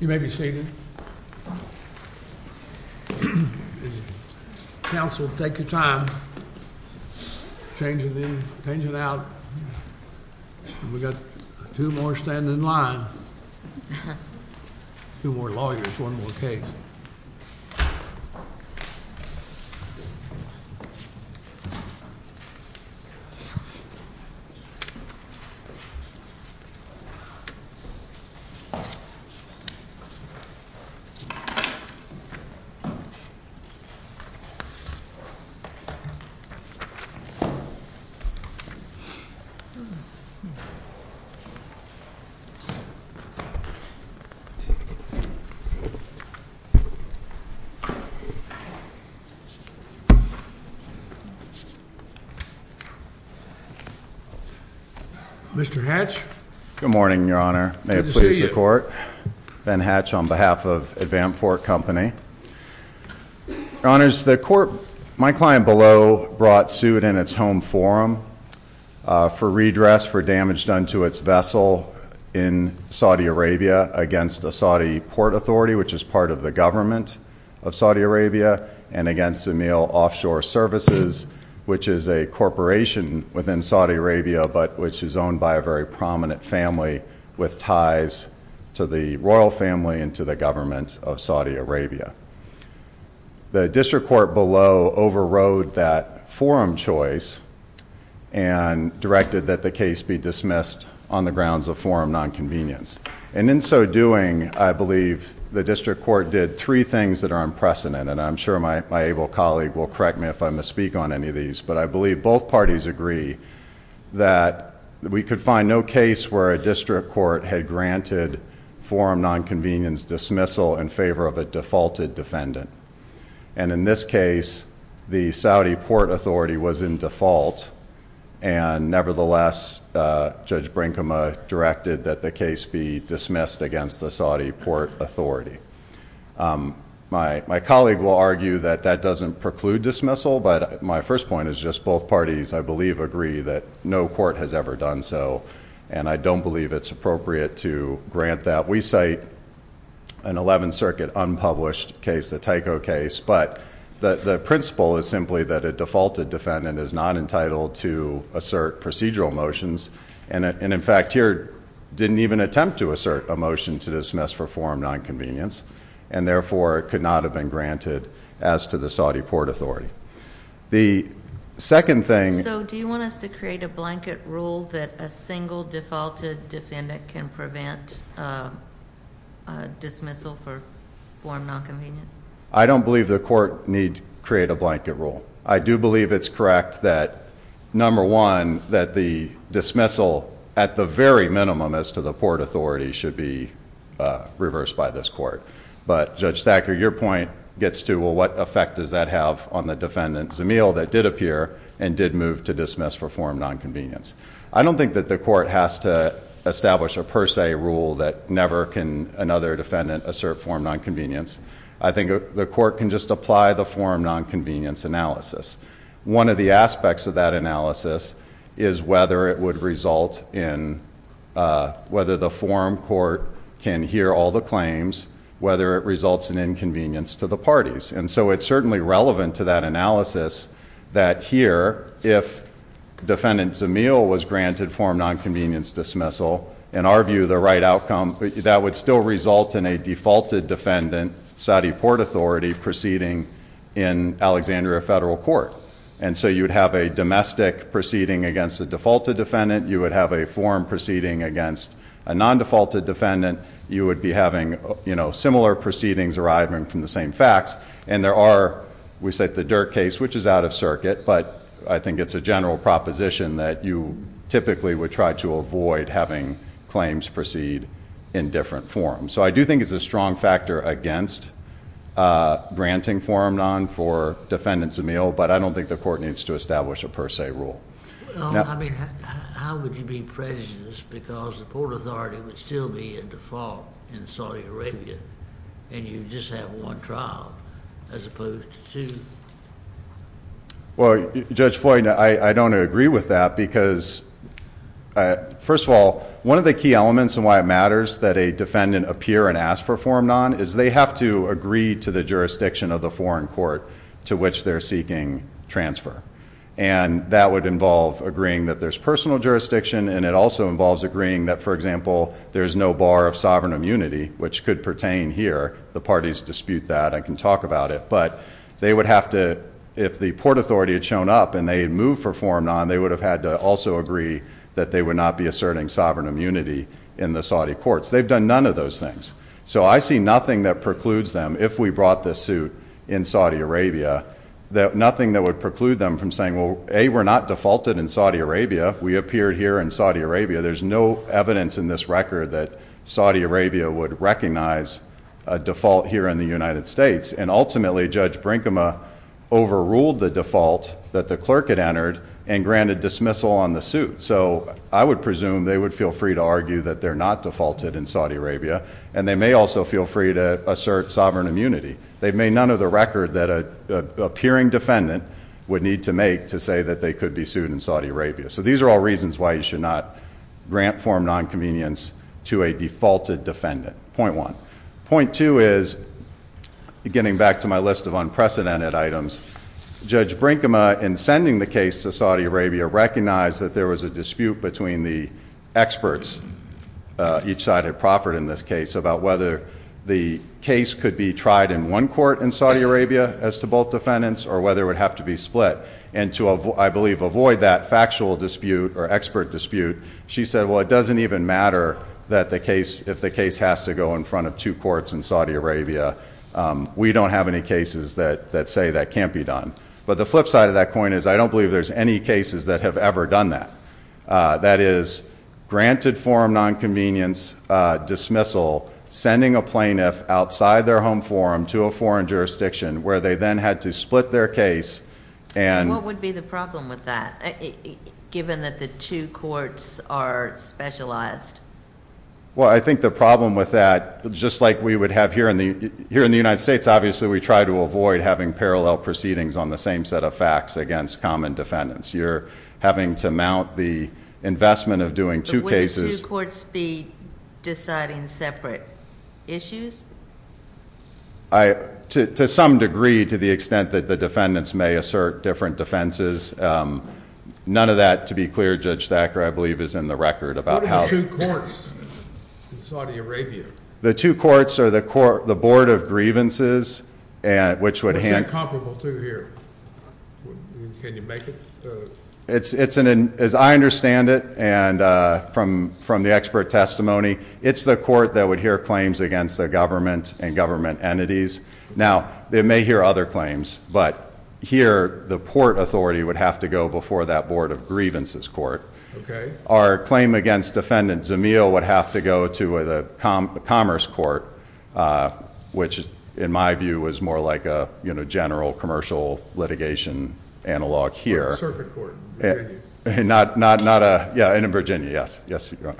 You may be seated. Council, take your time changing in, changing out. We've got two more standing in line. Two more lawyers, one more case. Mr. Hatch? Good morning, Your Honor. May it please the Court. Ben Hatch on behalf of AdvanFort Company. Your Honors, the Court, my client below brought suit in its home forum for redress for damage done to its vessel in Saudi Arabia against the Saudi Port Authority, which is part of the government of Saudi Arabia, and against Zamil Offshore Services, which is a corporation within Saudi Arabia, but which is owned by a very prominent family with ties to the royal family and to the government of Saudi Arabia. The district court below overrode that forum choice and directed that the case be dismissed on the grounds of forum nonconvenience. And in so doing, I believe the district court did three things that are unprecedented, and I'm sure my able colleague will correct me if I misspeak on any of these, but I believe both parties agree that we could find no case where a district court had granted forum nonconvenience dismissal in favor of a defaulted defendant. And in this case, the Saudi Port Authority was in default, and nevertheless, Judge Brinkema directed that the case be dismissed against the Saudi Port Authority. My colleague will argue that that doesn't preclude dismissal, but my first point is just both parties I believe agree that no court has ever done so, and I don't believe it's appropriate to grant that. We cite an 11th Circuit unpublished case, the Tyco case, but the principle is simply that a defaulted defendant is not entitled to assert procedural motions, and in fact here didn't even attempt to assert a motion to dismiss for forum nonconvenience, and therefore it could not have been granted as to the Saudi Port Authority. The second thing... So do you want us to create a blanket rule that a single defaulted defendant can prevent dismissal for forum nonconvenience? I don't believe the court need create a blanket rule. I do believe it's correct that, number one, that the dismissal at the very minimum as to the Port Authority should be reversed by this court, but Judge Thacker, your point gets to, well, what effect does that have on the defendant, Zamil, that did appear and did move to dismiss for forum nonconvenience? I don't think that the court has to establish a per se rule that never can another defendant assert forum nonconvenience. I think the court can just apply the forum nonconvenience analysis. One of the aspects of that analysis is whether it would result in whether the forum court can hear all the claims, whether it results in inconvenience to the parties. And so it's certainly relevant to that analysis that here, if defendant Zamil was granted forum nonconvenience dismissal, in our view, the right outcome, that would still result in a defaulted defendant, Saudi Port Authority, proceeding in Alexandria Federal Court. And so you'd have a domestic proceeding against the defaulted defendant. You would have a forum proceeding against a non-defaulted defendant. You would be having, you know, similar proceedings arriving from the same facts. And there are, we said the Dirk case, which is out of circuit, but I think it's a general proposition that you typically would try to avoid having claims proceed in different forums. So I do think it's a strong factor against granting forum non for defendants Zamil, but I don't think the court needs to establish a per se rule. I mean, how would you be prejudiced because the Port Authority would still be in default in Saudi Arabia, and you just have one trial as opposed to two? Well, Judge Floyd, I don't agree with that because, first of all, one of the key elements and why it matters that a defendant appear and ask for forum non is they have to agree to the jurisdiction of the forum court to which they're seeking transfer. And that would involve agreeing that there's personal jurisdiction, and it also involves agreeing that, for example, there's no bar of sovereign immunity, which could pertain here. The parties dispute that. I can talk about it. But they would have to, if the Port Authority had shown up and they had moved for forum non, they would have had to also agree that they would not be asserting sovereign immunity in the Saudi courts. They've done none of those things. So I see nothing that precludes them, if we brought this suit in Saudi Arabia, that nothing that would preclude them from saying, well, A, we're not defaulted in Saudi Arabia. We appeared here in Saudi Arabia. There's no evidence in this record that Saudi Arabia would recognize a default here in the United States. And ultimately, Judge Brinkema overruled the default that the clerk had entered and granted dismissal on the suit. So I would presume they would feel free to argue that they're not defaulted in Saudi Arabia, and they may also feel free to assert sovereign immunity. They've made none of the record that an appearing defendant would need to make to say that they could be sued in Saudi Arabia. So these are all reasons why you should not grant forum non-convenience to a defaulted defendant, point one. Point two is, getting back to my list of unprecedented items, Judge Brinkema, in sending the case to Saudi Arabia, recognized that there was a dispute between the experts, each side had proffered in this case, about whether the case could be tried in one court in Saudi Arabia with default defendants or whether it would have to be split. And to, I believe, avoid that factual dispute or expert dispute, she said, well, it doesn't even matter if the case has to go in front of two courts in Saudi Arabia. We don't have any cases that say that can't be done. But the flip side of that coin is, I don't believe there's any cases that have ever done that. That is, granted forum non-convenience dismissal, sending a case to Saudi Arabia, and the court has to split their case, and... And what would be the problem with that, given that the two courts are specialized? Well, I think the problem with that, just like we would have here in the United States, obviously we try to avoid having parallel proceedings on the same set of facts against common defendants. You're having to mount the investment of doing two cases... But would the two courts be deciding separate issues? To some degree, to the extent that the defendants may assert different defenses. None of that, to be clear, Judge Thacker, I believe, is in the record about how... What are the two courts in Saudi Arabia? The two courts are the Board of Grievances, which would... What's that comparable to here? Can you make it? As I understand it, and from the expert testimony, it's the court that would hear claims against the government and government entities. Now, they may hear other claims, but here the Port Authority would have to go before that Board of Grievances court. Our claim against Defendant Zameel would have to go to the Commerce Court, which in my view is more like a general commercial litigation analog here. Or a circuit court. Not a... Yeah, and in Virginia, yes. So if you're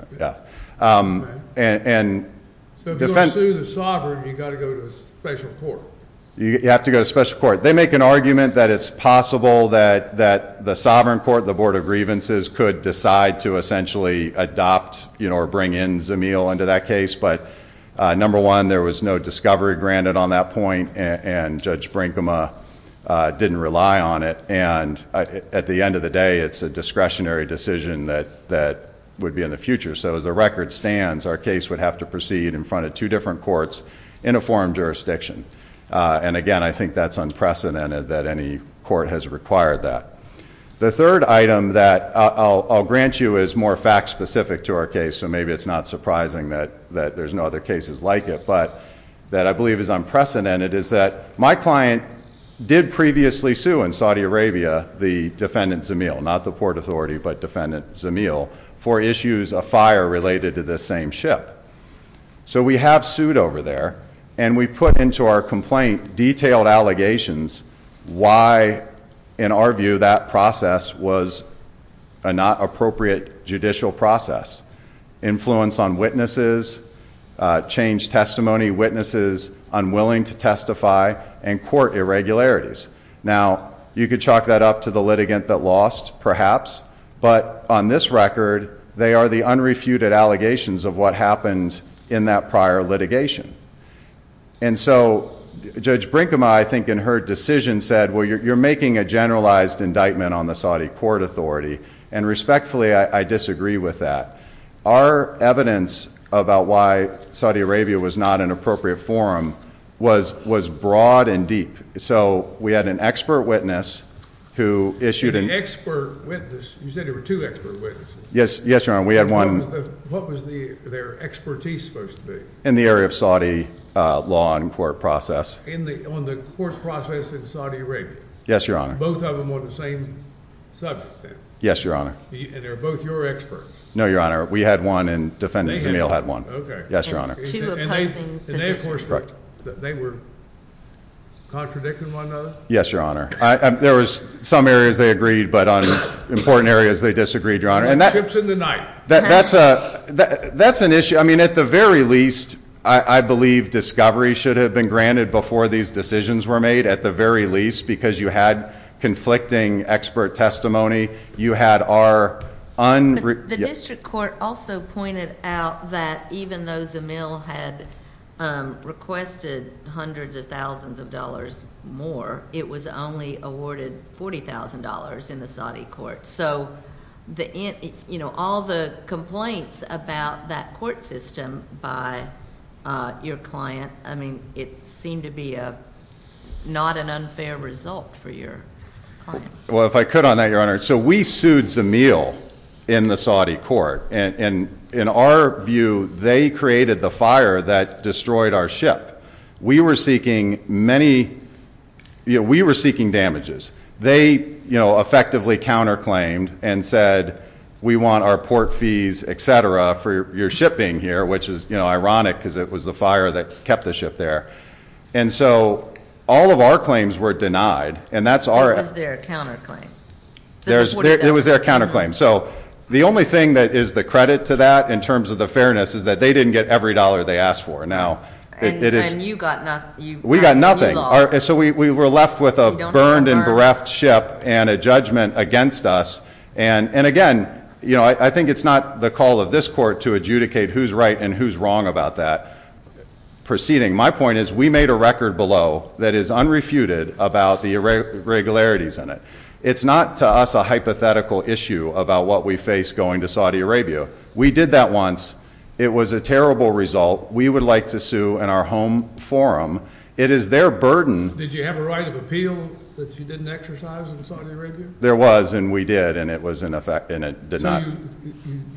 going to sue the sovereign, you've got to go to a special court? You have to go to a special court. They make an argument that it's possible that the sovereign court, the Board of Grievances, could decide to essentially adopt or bring in Zameel into that case. But number one, there was no discovery granted on that point, and Judge Brinkema didn't rely on it. And at the end of the day, it's a discretionary decision that would be in the future. So as the record stands, our case would have to proceed in front of two different courts in a forum jurisdiction. And again, I think that's unprecedented that any court has required that. The third item that I'll grant you is more fact specific to our case, so maybe it's not surprising that there's no other cases like it, but that I believe is unprecedented, is that my client did previously sue in Saudi Arabia the defendant Zameel, not the Port Authority, but defendant Zameel, for issues of fire related to this same ship. So we have sued over there, and we put into our complaint detailed allegations why, in our view, that process was a not appropriate judicial process. Influence on witnesses, changed testimony, witnesses unwilling to testify, and court irregularities. Now, you could chalk that up to the litigant that lost, perhaps. But on this record, they are the unrefuted allegations of what happened in that prior litigation. And so, Judge Brinkema, I think, in her decision said, well, you're making a generalized indictment on the Saudi Court Authority, and respectfully, I disagree with that. Our evidence about why Saudi Arabia was not an appropriate forum was broad and deep, so we had an expert witness who issued an- An expert witness, you said there were two expert witnesses. Yes, yes, Your Honor, we had one- What was their expertise supposed to be? In the area of Saudi law and court process. In the, on the court process in Saudi Arabia? Yes, Your Honor. Both of them on the same subject, then? Yes, Your Honor. And they're both your experts? No, Your Honor, we had one, and defendant Zameel had one. Okay. Yes, Your Honor. And two opposing positions. And they, of course, they were contradicting one another? Yes, Your Honor. There was some areas they agreed, but on important areas they disagreed, Your Honor, and that- Chips in the night. That's a, that's an issue. I mean, at the very least, I believe discovery should have been granted before these decisions were made, at the very least, because you had conflicting expert testimony. You had our unre- The district court also pointed out that even though Zameel had requested hundreds of thousands of dollars more, it was only awarded $40,000 in the Saudi court. So, the, you know, all the complaints about that court system by your client, I mean, it seemed to be a, not an unfair result for your client. Well, if I could on that, Your Honor. So, we sued Zameel in the Saudi court, and in our view, they created the fire that destroyed our ship. We were seeking many, you know, we were seeking damages. They, you know, effectively counter-claimed and said, we want our port fees, etc., for your shipping here. Which is, you know, ironic, because it was the fire that kept the ship there. And so, all of our claims were denied, and that's our- It was their counter-claim. So, that's what it is. It was their counter-claim. So, the only thing that is the credit to that, in terms of the fairness, is that they didn't get every dollar they asked for. Now, it is- And you got nothing. We got nothing. So, we were left with a burned and bereft ship, and a judgment against us. And again, you know, I think it's not the call of this court to adjudicate who's right and who's wrong about that proceeding. My point is, we made a record below that is unrefuted about the irregularities in it. It's not, to us, a hypothetical issue about what we face going to Saudi Arabia. We did that once. It was a terrible result. We would like to sue in our home forum. It is their burden- Did you have a right of appeal that you didn't exercise in Saudi Arabia? There was, and we did, and it was in effect, and it did not- So,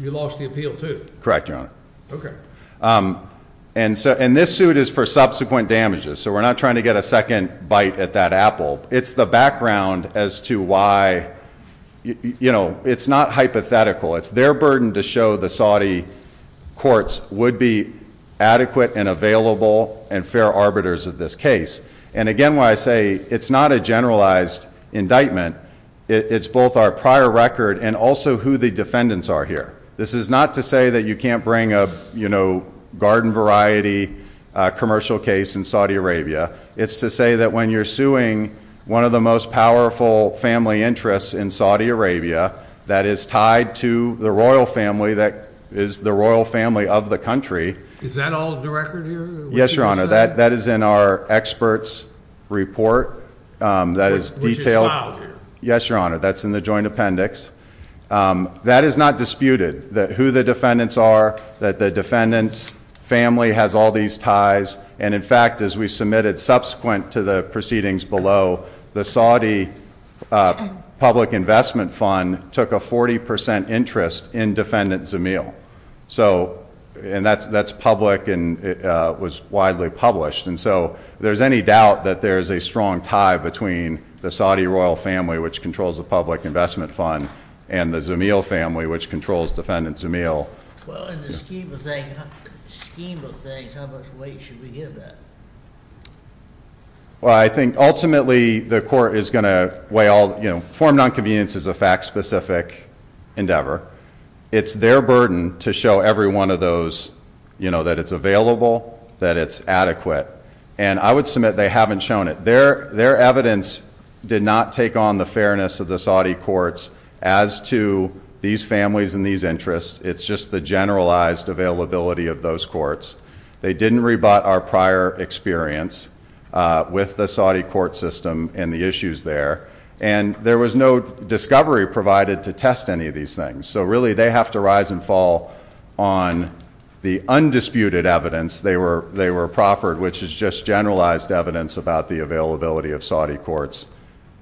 you lost the appeal, too? Correct, Your Honor. Okay. And this suit is for subsequent damages, so we're not trying to get a second bite at that apple. It's the background as to why, you know, it's not hypothetical. It's their burden to show the Saudi courts would be adequate and available and fair arbiters of this case. And again, when I say it's not a generalized indictment, it's both our prior record and also who the defendants are here. This is not to say that you can't bring a, you know, garden variety commercial case in Saudi Arabia. It's to say that when you're suing one of the most powerful family interests in Saudi Arabia that is tied to the royal family that is the royal family of the country- Is that all of the record here? Yes, Your Honor. That is in our expert's report that is detailed- Which is filed here. Yes, Your Honor. That's in the joint appendix. That is not disputed, that who the defendants are, that the defendant's family has all these ties. And in fact, as we submitted subsequent to the proceedings below, the Saudi public investment fund took a 40% interest in defendant Zamil. So, and that's public and was widely published. And so, there's any doubt that there's a strong tie between the Saudi royal family, which controls the public investment fund, and the Zamil family, which controls defendant Zamil. Well, in the scheme of things, how much weight should we give that? Well, I think ultimately the court is going to weigh all, you know, form non-convenience is a fact specific endeavor. It's their burden to show every one of those, you know, that it's available, that it's adequate. And I would submit they haven't shown it. Their evidence did not take on the fairness of the Saudi courts as to these families and these interests. It's just the generalized availability of those courts. They didn't rebut our prior experience with the Saudi court system and the issues there. And there was no discovery provided to test any of these things. So really, they have to rise and fall on the undisputed evidence. They were proffered, which is just generalized evidence about the availability of Saudi courts.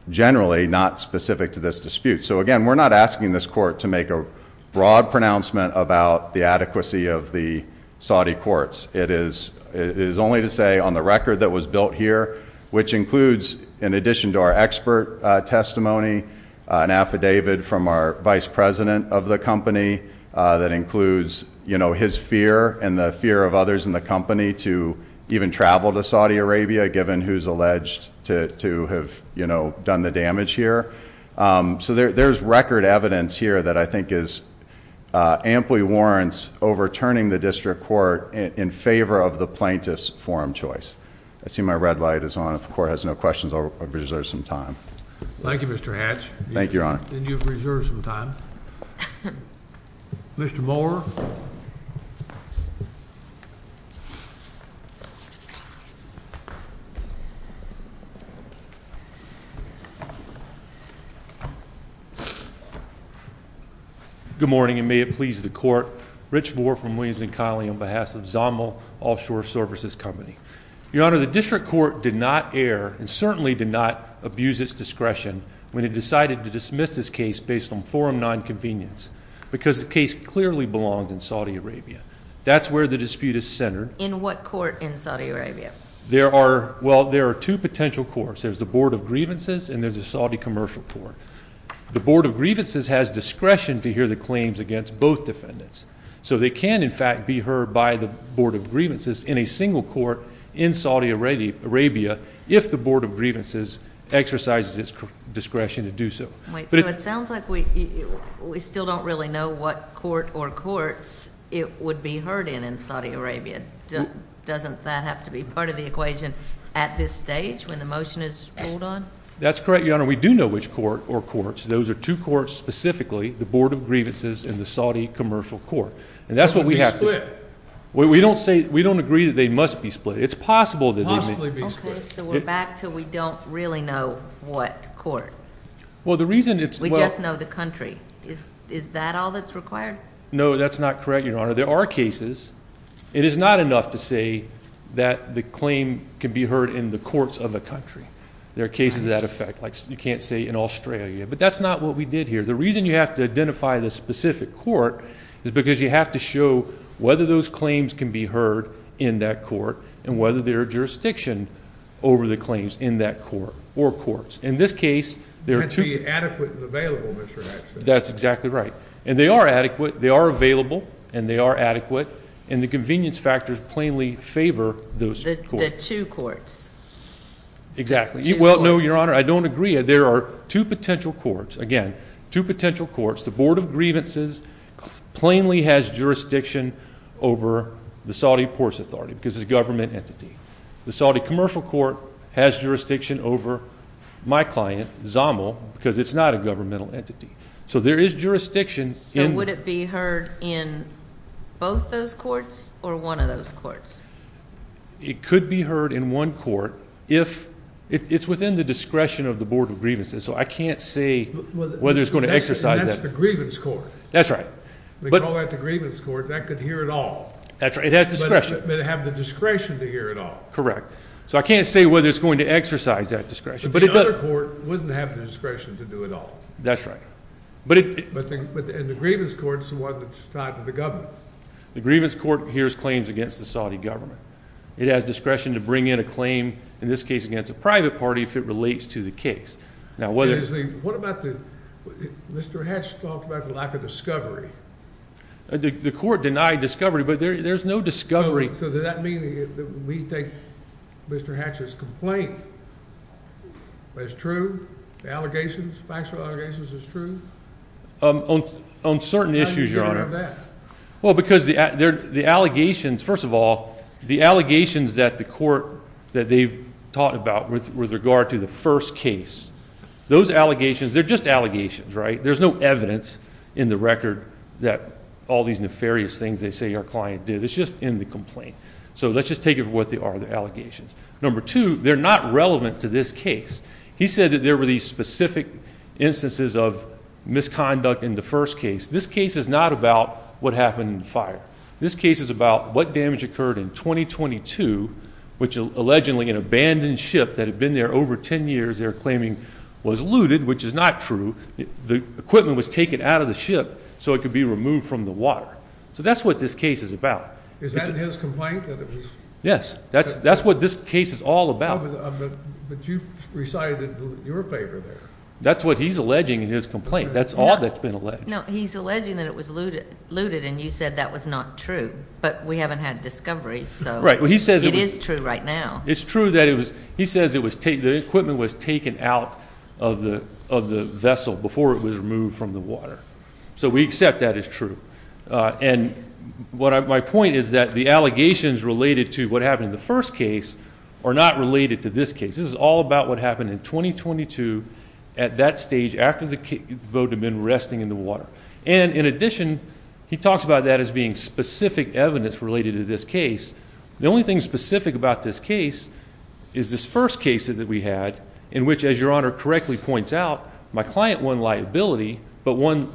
Generally, not specific to this dispute. So again, we're not asking this court to make a broad pronouncement about the adequacy of the Saudi courts. It is only to say on the record that was built here, which includes, in addition to our expert testimony, an affidavit from our vice president of the company that includes, you know, his fear and the fear of others in the company to even travel to Saudi Arabia, given who's alleged to have done the damage here. So there's record evidence here that I think is amply warrants overturning the district court in favor of the plaintiff's forum choice. I see my red light is on. If the court has no questions, I'll reserve some time. Thank you, Mr. Hatch. Thank you, Your Honor. Then you've reserved some time. Mr. Moore. Good morning, and may it please the court. Rich Moore from Williams and Connelly on behalf of Zommel Offshore Services Company. Your Honor, the district court did not err, and certainly did not abuse its discretion, when it decided to dismiss this case based on forum non-convenience, because the case clearly belongs in Saudi Arabia. That's where the dispute is centered. In what court in Saudi Arabia? There are, well, there are two potential courts. There's the Board of Grievances, and there's the Saudi Commercial Court. The Board of Grievances has discretion to hear the claims against both defendants. So they can, in fact, be heard by the Board of Grievances in a single court in Saudi Arabia, if the Board of Grievances exercises its discretion to do so. Wait, so it sounds like we still don't really know what court or courts it would be heard in in Saudi Arabia. Doesn't that have to be part of the equation at this stage, when the motion is pulled on? That's correct, Your Honor. Your Honor, we do know which court or courts. Those are two courts specifically, the Board of Grievances and the Saudi Commercial Court. And that's what we have to- We don't say, we don't agree that they must be split. It's possible that they may- Possibly be split. Okay, so we're back to we don't really know what court. Well, the reason it's- We just know the country. Is that all that's required? No, that's not correct, Your Honor. There are cases. It is not enough to say that the claim can be heard in the courts of a country. There are cases of that effect, like you can't say in Australia. But that's not what we did here. The reason you have to identify the specific court is because you have to show whether those claims can be heard in that court. And whether there are jurisdiction over the claims in that court or courts. In this case, there are two- It has to be adequate and available, Mr. Jackson. That's exactly right. And they are adequate. They are available. And they are adequate. And the convenience factors plainly favor those courts. The two courts. Exactly. Well, no, Your Honor, I don't agree. There are two potential courts. Again, two potential courts. The Board of Grievances plainly has jurisdiction over the Saudi Ports Authority because it's a government entity. The Saudi Commercial Court has jurisdiction over my client, ZAML, because it's not a governmental entity. So there is jurisdiction in- So would it be heard in both those courts or one of those courts? It could be heard in one court if- It's within the discretion of the Board of Grievances, so I can't say whether it's going to exercise that- That's the Grievance Court. That's right. They call that the Grievance Court. That could hear it all. That's right. It has discretion. But it'd have the discretion to hear it all. Correct. So I can't say whether it's going to exercise that discretion. But the other court wouldn't have the discretion to do it all. That's right. But it- But in the Grievance Court, it's the one that's tied to the government. The Grievance Court hears claims against the Saudi government. It has discretion to bring in a claim, in this case against a private party, if it relates to the case. Now whether- What about the- Mr. Hatch talked about the lack of discovery. The court denied discovery, but there's no discovery- So does that mean that we think Mr. Hatch's complaint is true? The allegations, factual allegations, is true? On certain issues, Your Honor. How do you know that? Well, because the allegations- First of all, the allegations that the court- that they've talked about with regard to the first case. Those allegations, they're just allegations, right? There's no evidence in the record that all these nefarious things they say your client did. It's just in the complaint. So let's just take it for what they are, the allegations. Number two, they're not relevant to this case. He said that there were these specific instances of misconduct in the first case. This case is not about what happened in the fire. This case is about what damage occurred in 2022, which allegedly an abandoned ship that had been there over 10 years, they're claiming was looted, which is not true. The equipment was taken out of the ship so it could be removed from the water. So that's what this case is about. Is that his complaint, that it was- Yes, that's what this case is all about. But you've recited your favor there. That's what he's alleging in his complaint. That's all that's been alleged. No, he's alleging that it was looted and you said that was not true. But we haven't had discovery, so it is true right now. It's true that he says the equipment was taken out of the vessel before it was removed from the water. So we accept that as true. And my point is that the allegations related to what happened in the first case are not related to this case. This is all about what happened in 2022 at that stage after the boat had been resting in the water. And in addition, he talks about that as being specific evidence related to this case. The only thing specific about this case is this first case that we had, in which, as your honor correctly points out, my client won liability, but won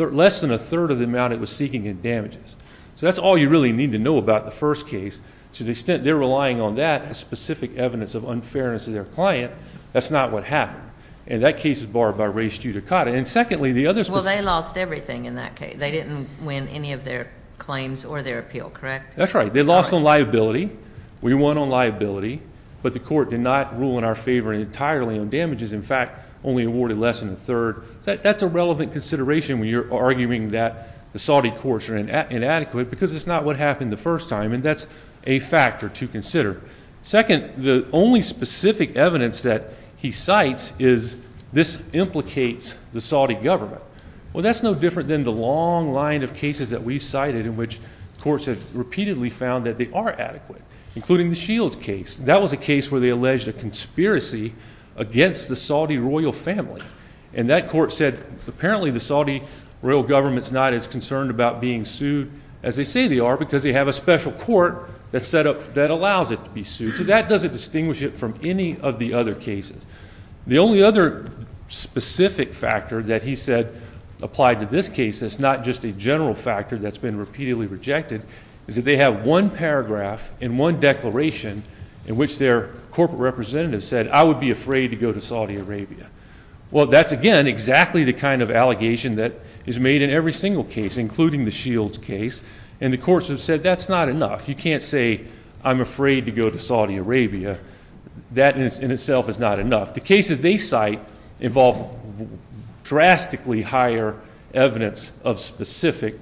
less than a third of the amount it was seeking in damages. So that's all you really need to know about the first case. To the extent they're relying on that as specific evidence of unfairness of their client, that's not what happened. And that case is borrowed by Ray Stutakata. And secondly, the other- Well, they lost everything in that case. They didn't win any of their claims or their appeal, correct? That's right. They lost on liability. We won on liability, but the court did not rule in our favor entirely on damages. In fact, only awarded less than a third. That's a relevant consideration when you're arguing that the Saudi courts are inadequate because it's not what happened the first time. And that's a factor to consider. Second, the only specific evidence that he cites is this implicates the Saudi government. Well, that's no different than the long line of cases that we've cited in which courts have repeatedly found that they are adequate, including the Shields case. That was a case where they alleged a conspiracy against the Saudi royal family. And that court said, apparently the Saudi royal government's not as concerned about being sued as they say they are because they have a special court that allows it to be sued. So that doesn't distinguish it from any of the other cases. The only other specific factor that he said applied to this case, that's not just a general factor that's been repeatedly rejected, is that they have one paragraph in one declaration in which their corporate representative said, I would be afraid to go to Saudi Arabia. Well, that's again exactly the kind of allegation that is made in every single case, including the Shields case. And the courts have said, that's not enough. You can't say, I'm afraid to go to Saudi Arabia. That in itself is not enough. The cases they cite involve drastically higher evidence of specific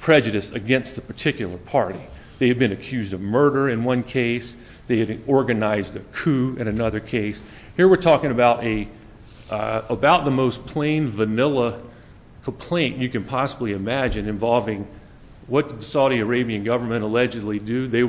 prejudice against a particular party. They have been accused of murder in one case. They have organized a coup in another case. Here we're talking about the most plain vanilla complaint you can possibly imagine involving what the Saudi Arabian government allegedly do. They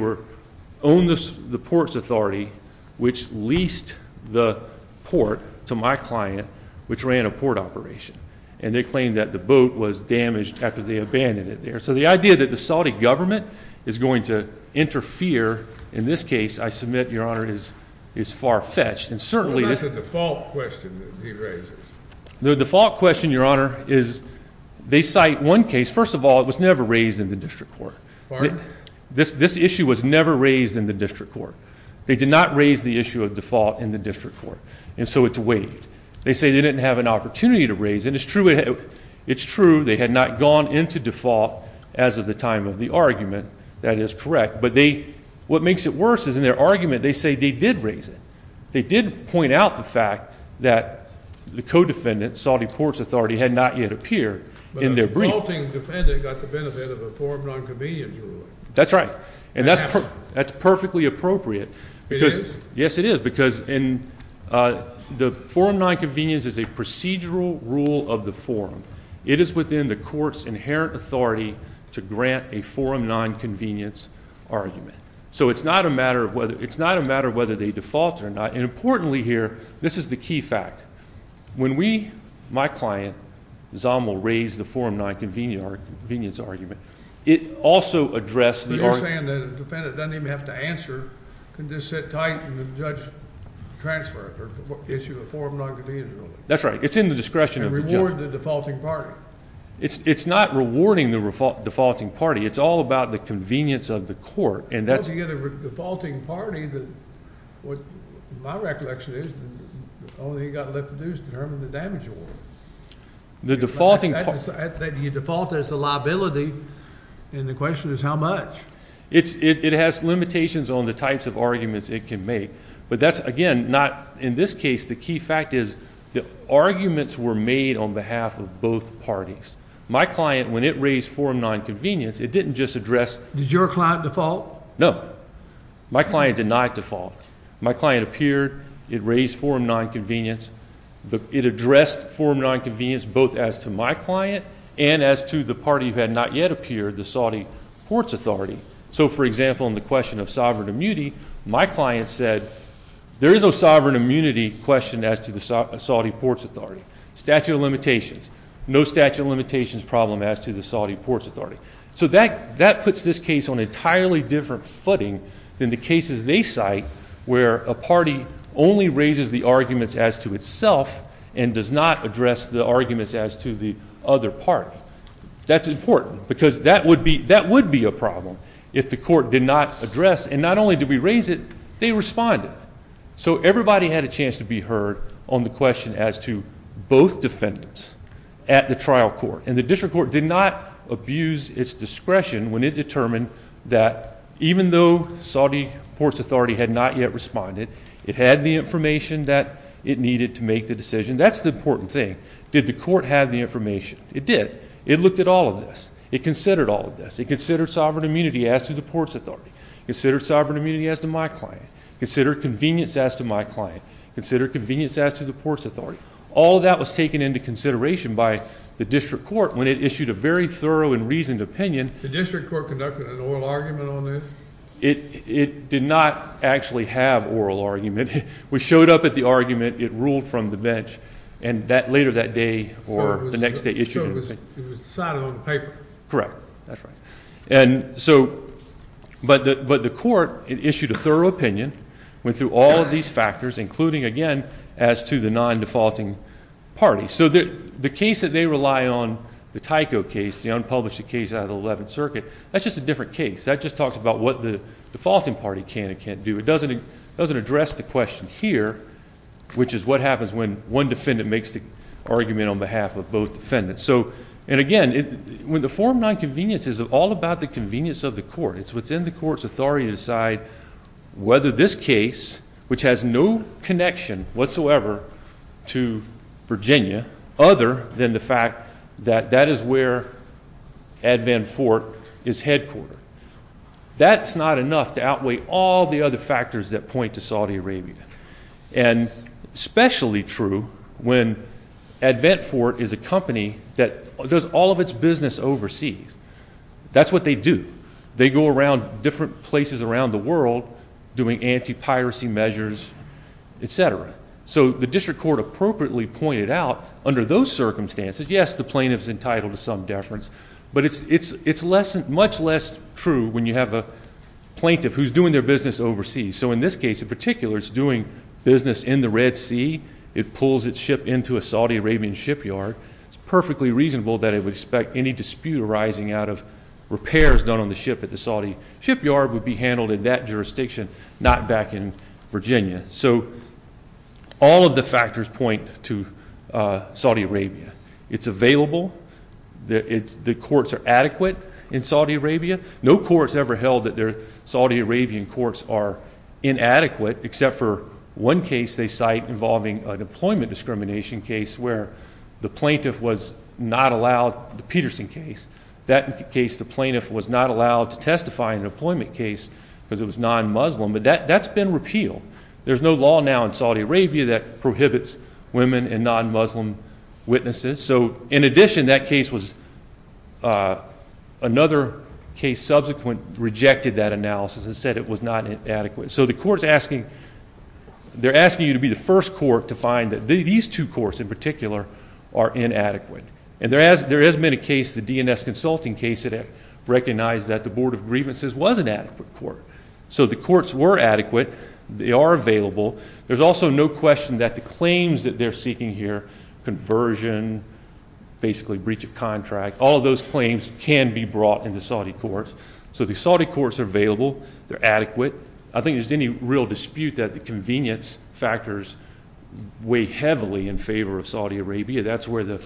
own the port's authority, which leased the port to my client, which ran a port operation. And they claim that the boat was damaged after they abandoned it there. So the idea that the Saudi government is going to interfere in this case, I submit, your honor, is far-fetched. It's a default question that he raises. The default question, your honor, is they cite one case. First of all, it was never raised in the district court. This issue was never raised in the district court. They did not raise the issue of default in the district court. And so it's waived. They say they didn't have an opportunity to raise it. And it's true they had not gone into default as of the time of the argument. That is correct. But what makes it worse is in their argument, they say they did raise it. They did point out the fact that the co-defendant, Saudi port's authority, had not yet appeared in their brief. But a defaulting defendant got the benefit of a forum non-convenience ruling. That's right. And that's perfectly appropriate. It is? Yes, it is. Because the forum non-convenience is a procedural rule of the forum. It is within the court's inherent authority to grant a forum non-convenience argument. So it's not a matter of whether they defaulted or not. And importantly here, this is the key fact. When we, my client, Zommel, raised the forum non-convenience argument, it also addressed the argument. You're saying that a defendant doesn't even have to answer. Can just sit tight and the judge transfer it or issue a forum non-convenience ruling. That's right. It's in the discretion of the judge. And reward the defaulting party. It's not rewarding the defaulting party. It's all about the convenience of the court. Well, if you get a defaulting party, what my recollection is, all you've got to do is determine the damage award. The defaulting party. You default as a liability, and the question is how much? It has limitations on the types of arguments it can make. But that's, again, not, in this case, the key fact is, the arguments were made on behalf of both parties. My client, when it raised forum non-convenience, it didn't just address. Did your client default? My client denied default. My client appeared. It raised forum non-convenience. It addressed forum non-convenience both as to my client and as to the party who had not yet appeared, the Saudi Ports Authority. So, for example, in the question of sovereign immunity, my client said, there is no sovereign immunity question as to the Saudi Ports Authority. Statute of limitations. No statute of limitations problem as to the Saudi Ports Authority. So that puts this case on an entirely different footing than the cases they cite, where a party only raises the arguments as to itself and does not address the arguments as to the other party. That's important, because that would be a problem if the court did not address. And not only did we raise it, they responded. So everybody had a chance to be heard on the question as to both defendants at the trial court. And the district court did not abuse its discretion when it determined that even though Saudi Ports Authority had not yet responded, it had the information that it needed to make the decision. That's the important thing. Did the court have the information? It did. It looked at all of this. It considered all of this. It considered sovereign immunity as to the Ports Authority. Considered sovereign immunity as to my client. Considered convenience as to my client. Considered convenience as to the Ports Authority. All of that was taken into consideration by the district court when it issued a very thorough and reasoned opinion. The district court conducted an oral argument on this? It did not actually have oral argument. We showed up at the argument. It ruled from the bench. And later that day or the next day issued an opinion. So it was decided on paper. Correct. That's right. But the court, it issued a thorough opinion, went through all of these factors, including, again, as to the non-defaulting party. So the case that they rely on, the Tyco case, the unpublished case out of the 11th Circuit, that's just a different case. That just talks about what the defaulting party can and can't do. It doesn't address the question here, which is what happens when one defendant makes the argument on behalf of both defendants. And again, the Form 9 convenience is all about the convenience of the court. It's within the court's authority to decide whether this case, which has no connection, whatsoever, to Virginia, other than the fact that that is where Advent Fort is headquartered. That's not enough to outweigh all the other factors that point to Saudi Arabia. And especially true when Advent Fort is a company that does all of its business overseas. That's what they do. They go around different places around the world doing anti-piracy measures, et cetera. So the district court appropriately pointed out, under those circumstances, yes, the plaintiff's entitled to some deference. But it's much less true when you have a plaintiff who's doing their business overseas. So in this case, in particular, it's doing business in the Red Sea. It pulls its ship into a Saudi Arabian shipyard. It's perfectly reasonable that it would expect any dispute arising out of repairs done on the ship at the Saudi shipyard would be handled in that jurisdiction, not back in Virginia. So all of the factors point to Saudi Arabia. It's available. The courts are adequate in Saudi Arabia. No courts ever held that Saudi Arabian courts are inadequate, except for one case they cite involving an employment discrimination case where the plaintiff was not allowed, the Peterson case. That case, the plaintiff was not allowed to testify in an employment case because it was non-Muslim. But that's been repealed. There's no law now in Saudi Arabia that prohibits women and non-Muslim witnesses. So in addition, that case was another case subsequent rejected that analysis and said it was not adequate. So the court's asking, they're asking you to be the first court to find that these two courts, in particular, are inadequate. And there has been a case, the DNS Consulting case, that recognized that the Board of Grievances was an adequate court. So the courts were adequate. They are available. There's also no question that the claims that they're seeking here, conversion, basically breach of contract, all of those claims can be brought into Saudi courts. So the Saudi courts are available. They're adequate. I think there's any real dispute that the convenience factors weigh heavily in favor of Saudi Arabia. That's where the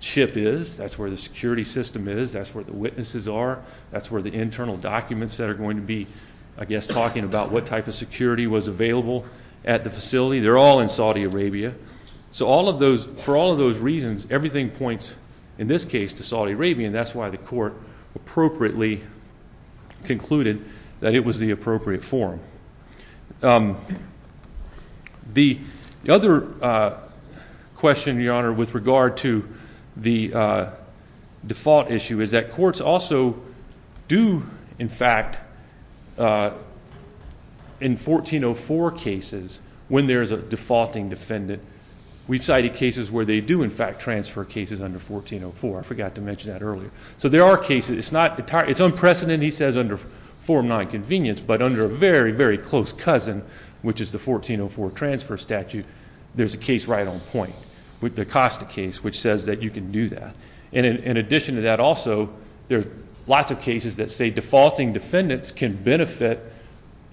ship is. That's where the security system is. That's where the witnesses are. That's where the internal documents that are going to be, I guess, talking about what type of security was available at the facility. They're all in Saudi Arabia. So for all of those reasons, everything points, in this case, to Saudi Arabia. And that's why the court appropriately concluded that it was the appropriate forum. The other question, Your Honor, with regard to the default issue, is that courts also do, in fact, in 1404 cases, when there is a defaulting defendant, we've cited cases where they do, in fact, transfer cases under 1404. I forgot to mention that earlier. So there are cases. It's unprecedented, he says, under Form 9 convenience. But under a very, very close cousin, which is the 1404 transfer statute, there's a case right on point, the Acosta case, which says that you can do that. And in addition to that, also, there are lots of cases that say defaulting defendants can benefit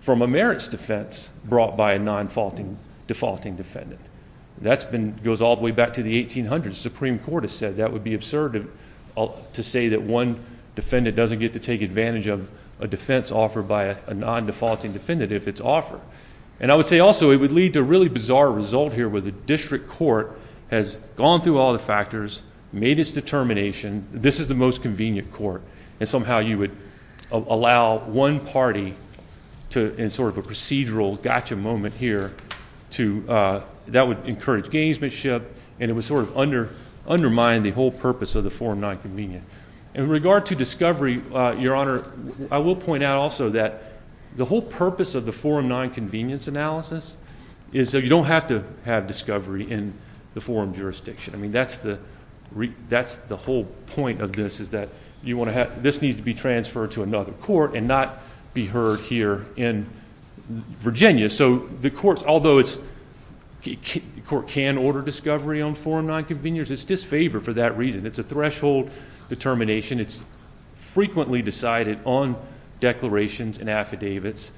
from a merits defense brought by a non-defaulting defendant. That goes all the way back to the 1800s. The Supreme Court has said that would be absurd to say that one defendant doesn't get to take advantage of a defense offered by a non-defaulting defendant if it's offered. And I would say, also, it would lead to a really bizarre result here, where the district court has gone through all the factors, made its determination. This is the most convenient court. And somehow, you would allow one party to, in sort of a procedural gotcha moment here, that would encourage gamesmanship. And it would sort of undermine the whole purpose of the Form 9 convenience. In regard to discovery, Your Honor, I will point out, also, that the whole purpose of the Form 9 convenience analysis is that you don't have to have discovery in the forum jurisdiction. I mean, that's the whole point of this, is that this needs to be transferred to another court and not be heard here in Virginia. So the courts, although the court can order discovery on Form 9 convenience, it's disfavored for that reason. It's a threshold determination. It's frequently decided on declarations and affidavits.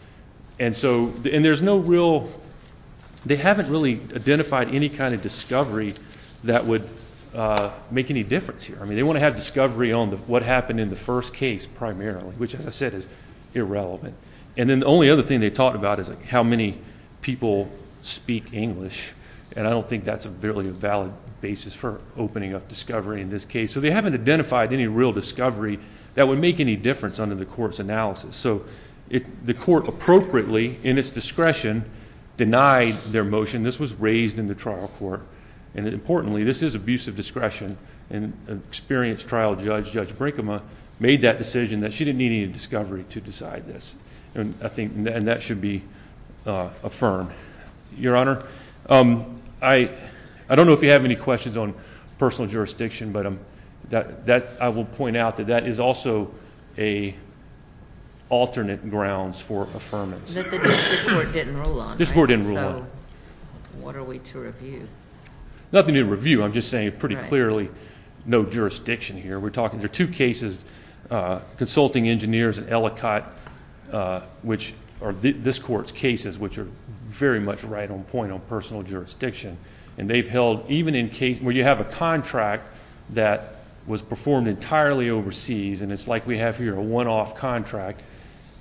And so there's no real, they haven't really identified any kind of discovery that would make any difference here. I mean, they want to have discovery on what happened in the first case, primarily, which, as I said, is irrelevant. And then the only other thing they talked about is how many people speak English. And I don't think that's really a valid basis for opening up discovery in this case. So they haven't identified any real discovery that would make any difference under the court's analysis. So the court appropriately, in its discretion, denied their motion. This was raised in the trial court. And importantly, this is abuse of discretion. And an experienced trial judge, Judge Brinkema, made that decision that she didn't need any discovery to decide this. And I think that should be affirmed. Your Honor, I don't know if you have any questions on personal jurisdiction, but I will point out that that is also alternate grounds for affirmance. That the district court didn't rule on. District court didn't rule on. So what are we to review? Nothing to review. I'm just saying, pretty clearly, no jurisdiction here. We're talking, there are two cases, Consulting Engineers and Ellicott, which are this court's cases, which are very much right on point on personal jurisdiction. And they've held, even in cases where you have a contract that was performed entirely overseas, and it's like we have here a one-off contract,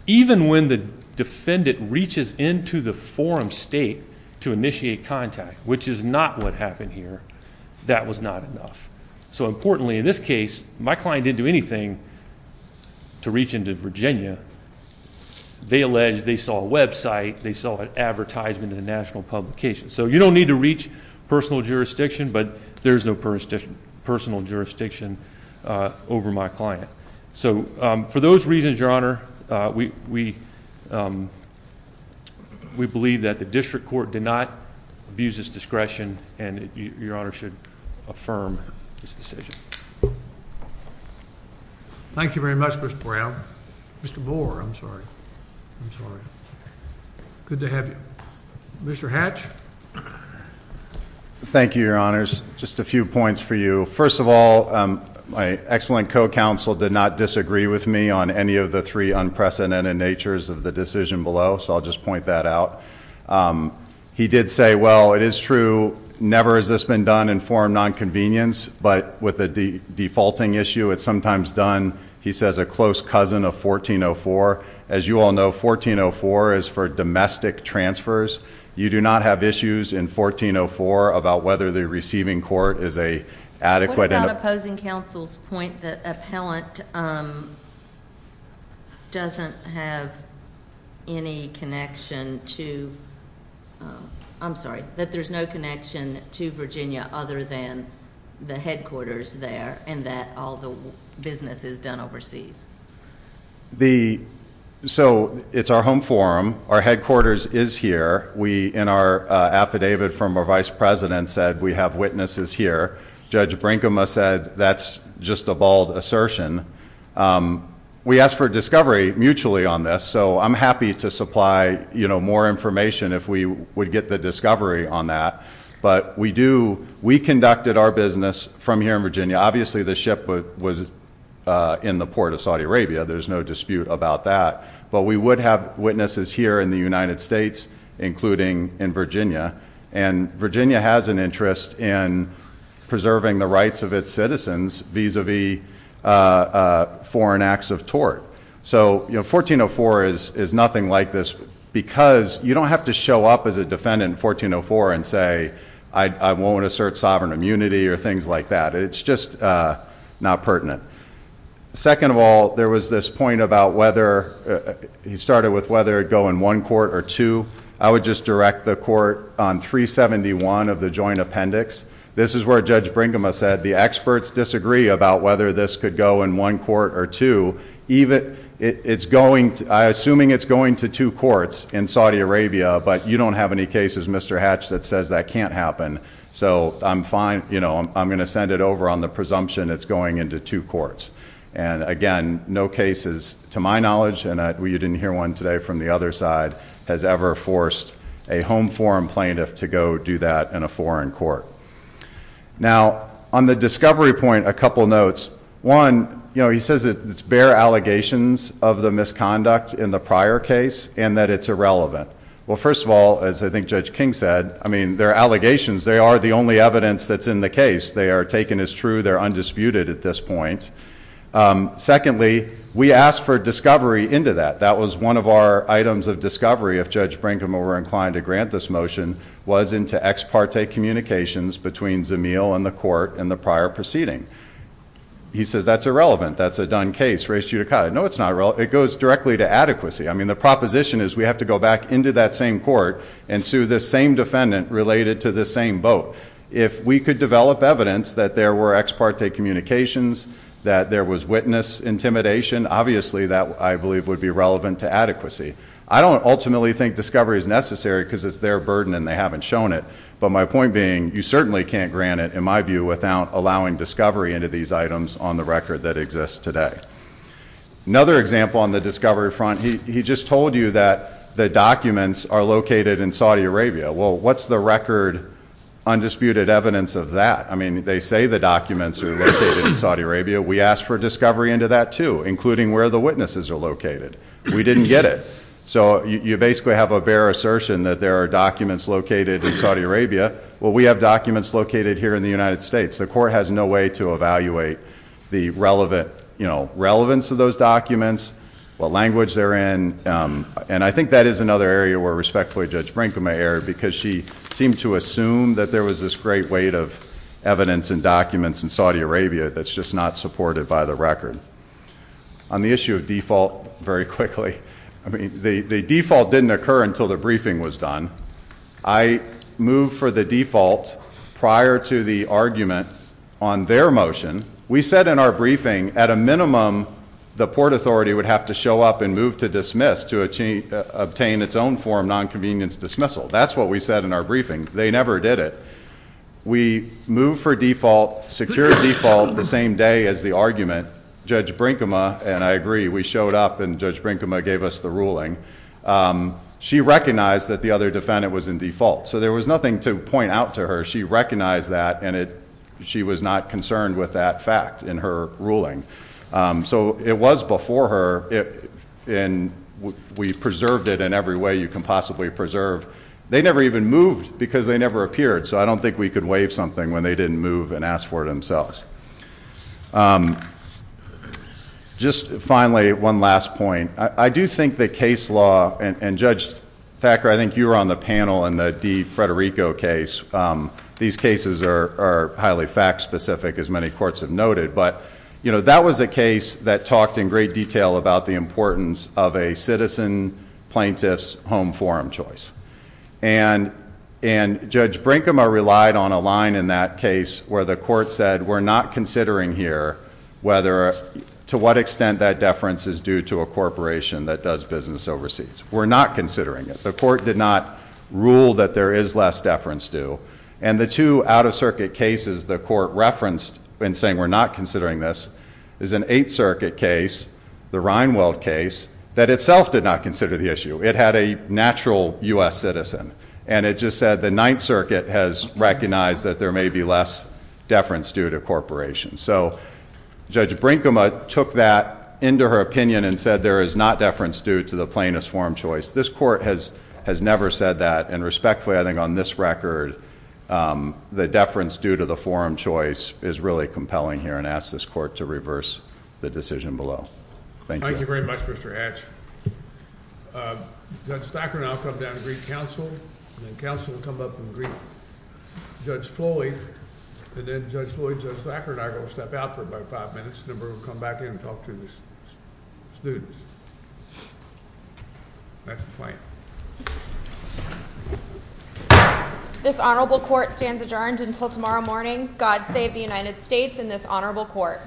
even when the defendant reaches into the forum state to initiate contact, which is not what happened here, that was not enough. So importantly, in this case, my client didn't do anything to reach into Virginia. They alleged they saw a website, they saw an advertisement in a national publication. So you don't need to reach personal jurisdiction, but there's no personal jurisdiction over my client. So for those reasons, Your Honor, we believe that the district court did not abuse its discretion, and Your Honor should affirm this decision. Thank you very much, Mr. Brown. Mr. Bohr, I'm sorry. Good to have you. Mr. Hatch? Thank you, Your Honors. Just a few points for you. First of all, my excellent co-counsel did not disagree with me on any of the three unprecedented natures of the decision below, so I'll just point that out. He did say, well, it is true, never has this been done in forum nonconvenience, but with a defaulting issue, it's sometimes done. He says a close cousin of 1404. As you all know, 1404 is for domestic transfers. You do not have issues in 1404 about whether the receiving court is a adequate enough. What about opposing counsel's point that appellant doesn't have any connection to, I'm sorry, that there's no connection to Virginia other than the headquarters there, and that all the business is done overseas? So it's our home forum. Our headquarters is here. We, in our affidavit from our vice president, said we have witnesses here. Judge Brinkema said that's just a bald assertion. We asked for discovery mutually on this, so I'm happy to supply more information if we would get the discovery on that. But we conducted our business from here in Virginia. Obviously, the ship was in the port of Saudi Arabia. There's no dispute about that. But we would have witnesses here in the United States, including in Virginia. And Virginia has an interest in preserving the rights of its citizens vis-a-vis foreign acts of tort. So 1404 is nothing like this because you don't have to show up as a defendant in 1404 and say I won't assert sovereign immunity or things like that. It's just not pertinent. Second of all, there was this point about whether he started with whether it go in one court or two. I would just direct the court on 371 of the joint appendix. This is where Judge Brinkema said the experts disagree about whether this could go in one court or two. I'm assuming it's going to two courts in Saudi Arabia, but you don't have any cases, Mr. Hatch, that says that can't happen. So I'm going to send it over on the presumption it's going into two courts. And again, no cases, to my knowledge, and you didn't hear one today from the other side, has ever forced a home forum plaintiff to go do that in a foreign court. Now, on the discovery point, a couple notes. One, he says it's bare allegations of the misconduct in the prior case and that it's irrelevant. Well, first of all, as I think Judge King said, I mean, they're allegations. They are the only evidence that's in the case. They are taken as true. They're undisputed at this point. Secondly, we asked for discovery into that. That was one of our items of discovery, if Judge Brinkema were inclined to grant this motion, was into ex parte communications between Zamil and the court in the prior proceeding. He says that's irrelevant. That's a done case, res judicata. No, it's not relevant. It goes directly to adequacy. I mean, the proposition is we have to go back into that same court and sue the same defendant related to the same vote. If we could develop evidence that there were ex parte communications, that there was witness intimidation, obviously that, I believe, would be relevant to adequacy. I don't ultimately think discovery is necessary because it's their burden and they haven't shown it. But my point being, you certainly can't grant it, in my view, without allowing discovery into these items on the record that exists today. Another example on the discovery front, he just told you that the documents are located in Saudi Arabia. Well, what's the record, undisputed evidence of that? I mean, they say the documents are located in Saudi Arabia. We asked for discovery into that, too, including where the witnesses are located. We didn't get it. So you basically have a bare assertion that there are documents located in Saudi Arabia. Well, we have documents located here in the United States. The court has no way to evaluate the relevance of those documents, what language they're in. And I think that is another area where, respectfully, Judge Frankema erred because she seemed to assume that there was this great weight of evidence and documents in Saudi Arabia that's just not supported by the record. On the issue of default, very quickly, I mean, the default didn't occur until the briefing was done. I moved for the default prior to the argument on their motion. We said in our briefing, at a minimum, the port authority would have to show up and move to dismiss to obtain its own form non-convenience dismissal. That's what we said in our briefing. They never did it. We moved for default, secured default the same day as the argument. Judge Frankema, and I agree, we showed up and Judge Frankema gave us the ruling. She recognized that the other defendant was in default. So there was nothing to point out to her. She recognized that, and she was not concerned with that fact in her ruling. So it was before her, and we preserved it in every way you can possibly preserve. They never even moved, because they never appeared. So I don't think we could waive something when they didn't move and ask for it themselves. Just finally, one last point. I do think the case law, and Judge Thacker, I think you were on the panel in the DeFrederico case. These cases are highly fact specific, as many courts have noted. But that was a case that talked in great detail about the importance of a citizen plaintiff's home forum choice. And Judge Frankema relied on a line in that case where the court said, we're not considering here to what extent that deference is due to a corporation that does business overseas. We're not considering it. The court did not rule that there is less deference due. And the two out of circuit cases the court referenced in saying, we're not considering this, is an Eighth Circuit case, the Reinwald case, that itself did not consider the issue. It had a natural US citizen. And it just said the Ninth Circuit has recognized that there may be less deference due to a corporation. So Judge Brinkema took that into her opinion and said there is not deference due to the plaintiff's forum choice. This court has never said that. And respectfully, I think on this record, the deference due to the forum choice is really compelling here, and ask this court to reverse the decision below. Thank you. Thank you very much, Mr. Hatch. Judge Thacker and I will come down and greet counsel. And then counsel will come up and greet Judge Floyd. And then Judge Floyd, Judge Thacker, and I are going to step out for about five minutes. And then we'll come back in and talk to the students. That's the plan. This honorable court stands adjourned until tomorrow morning. God save the United States and this honorable court.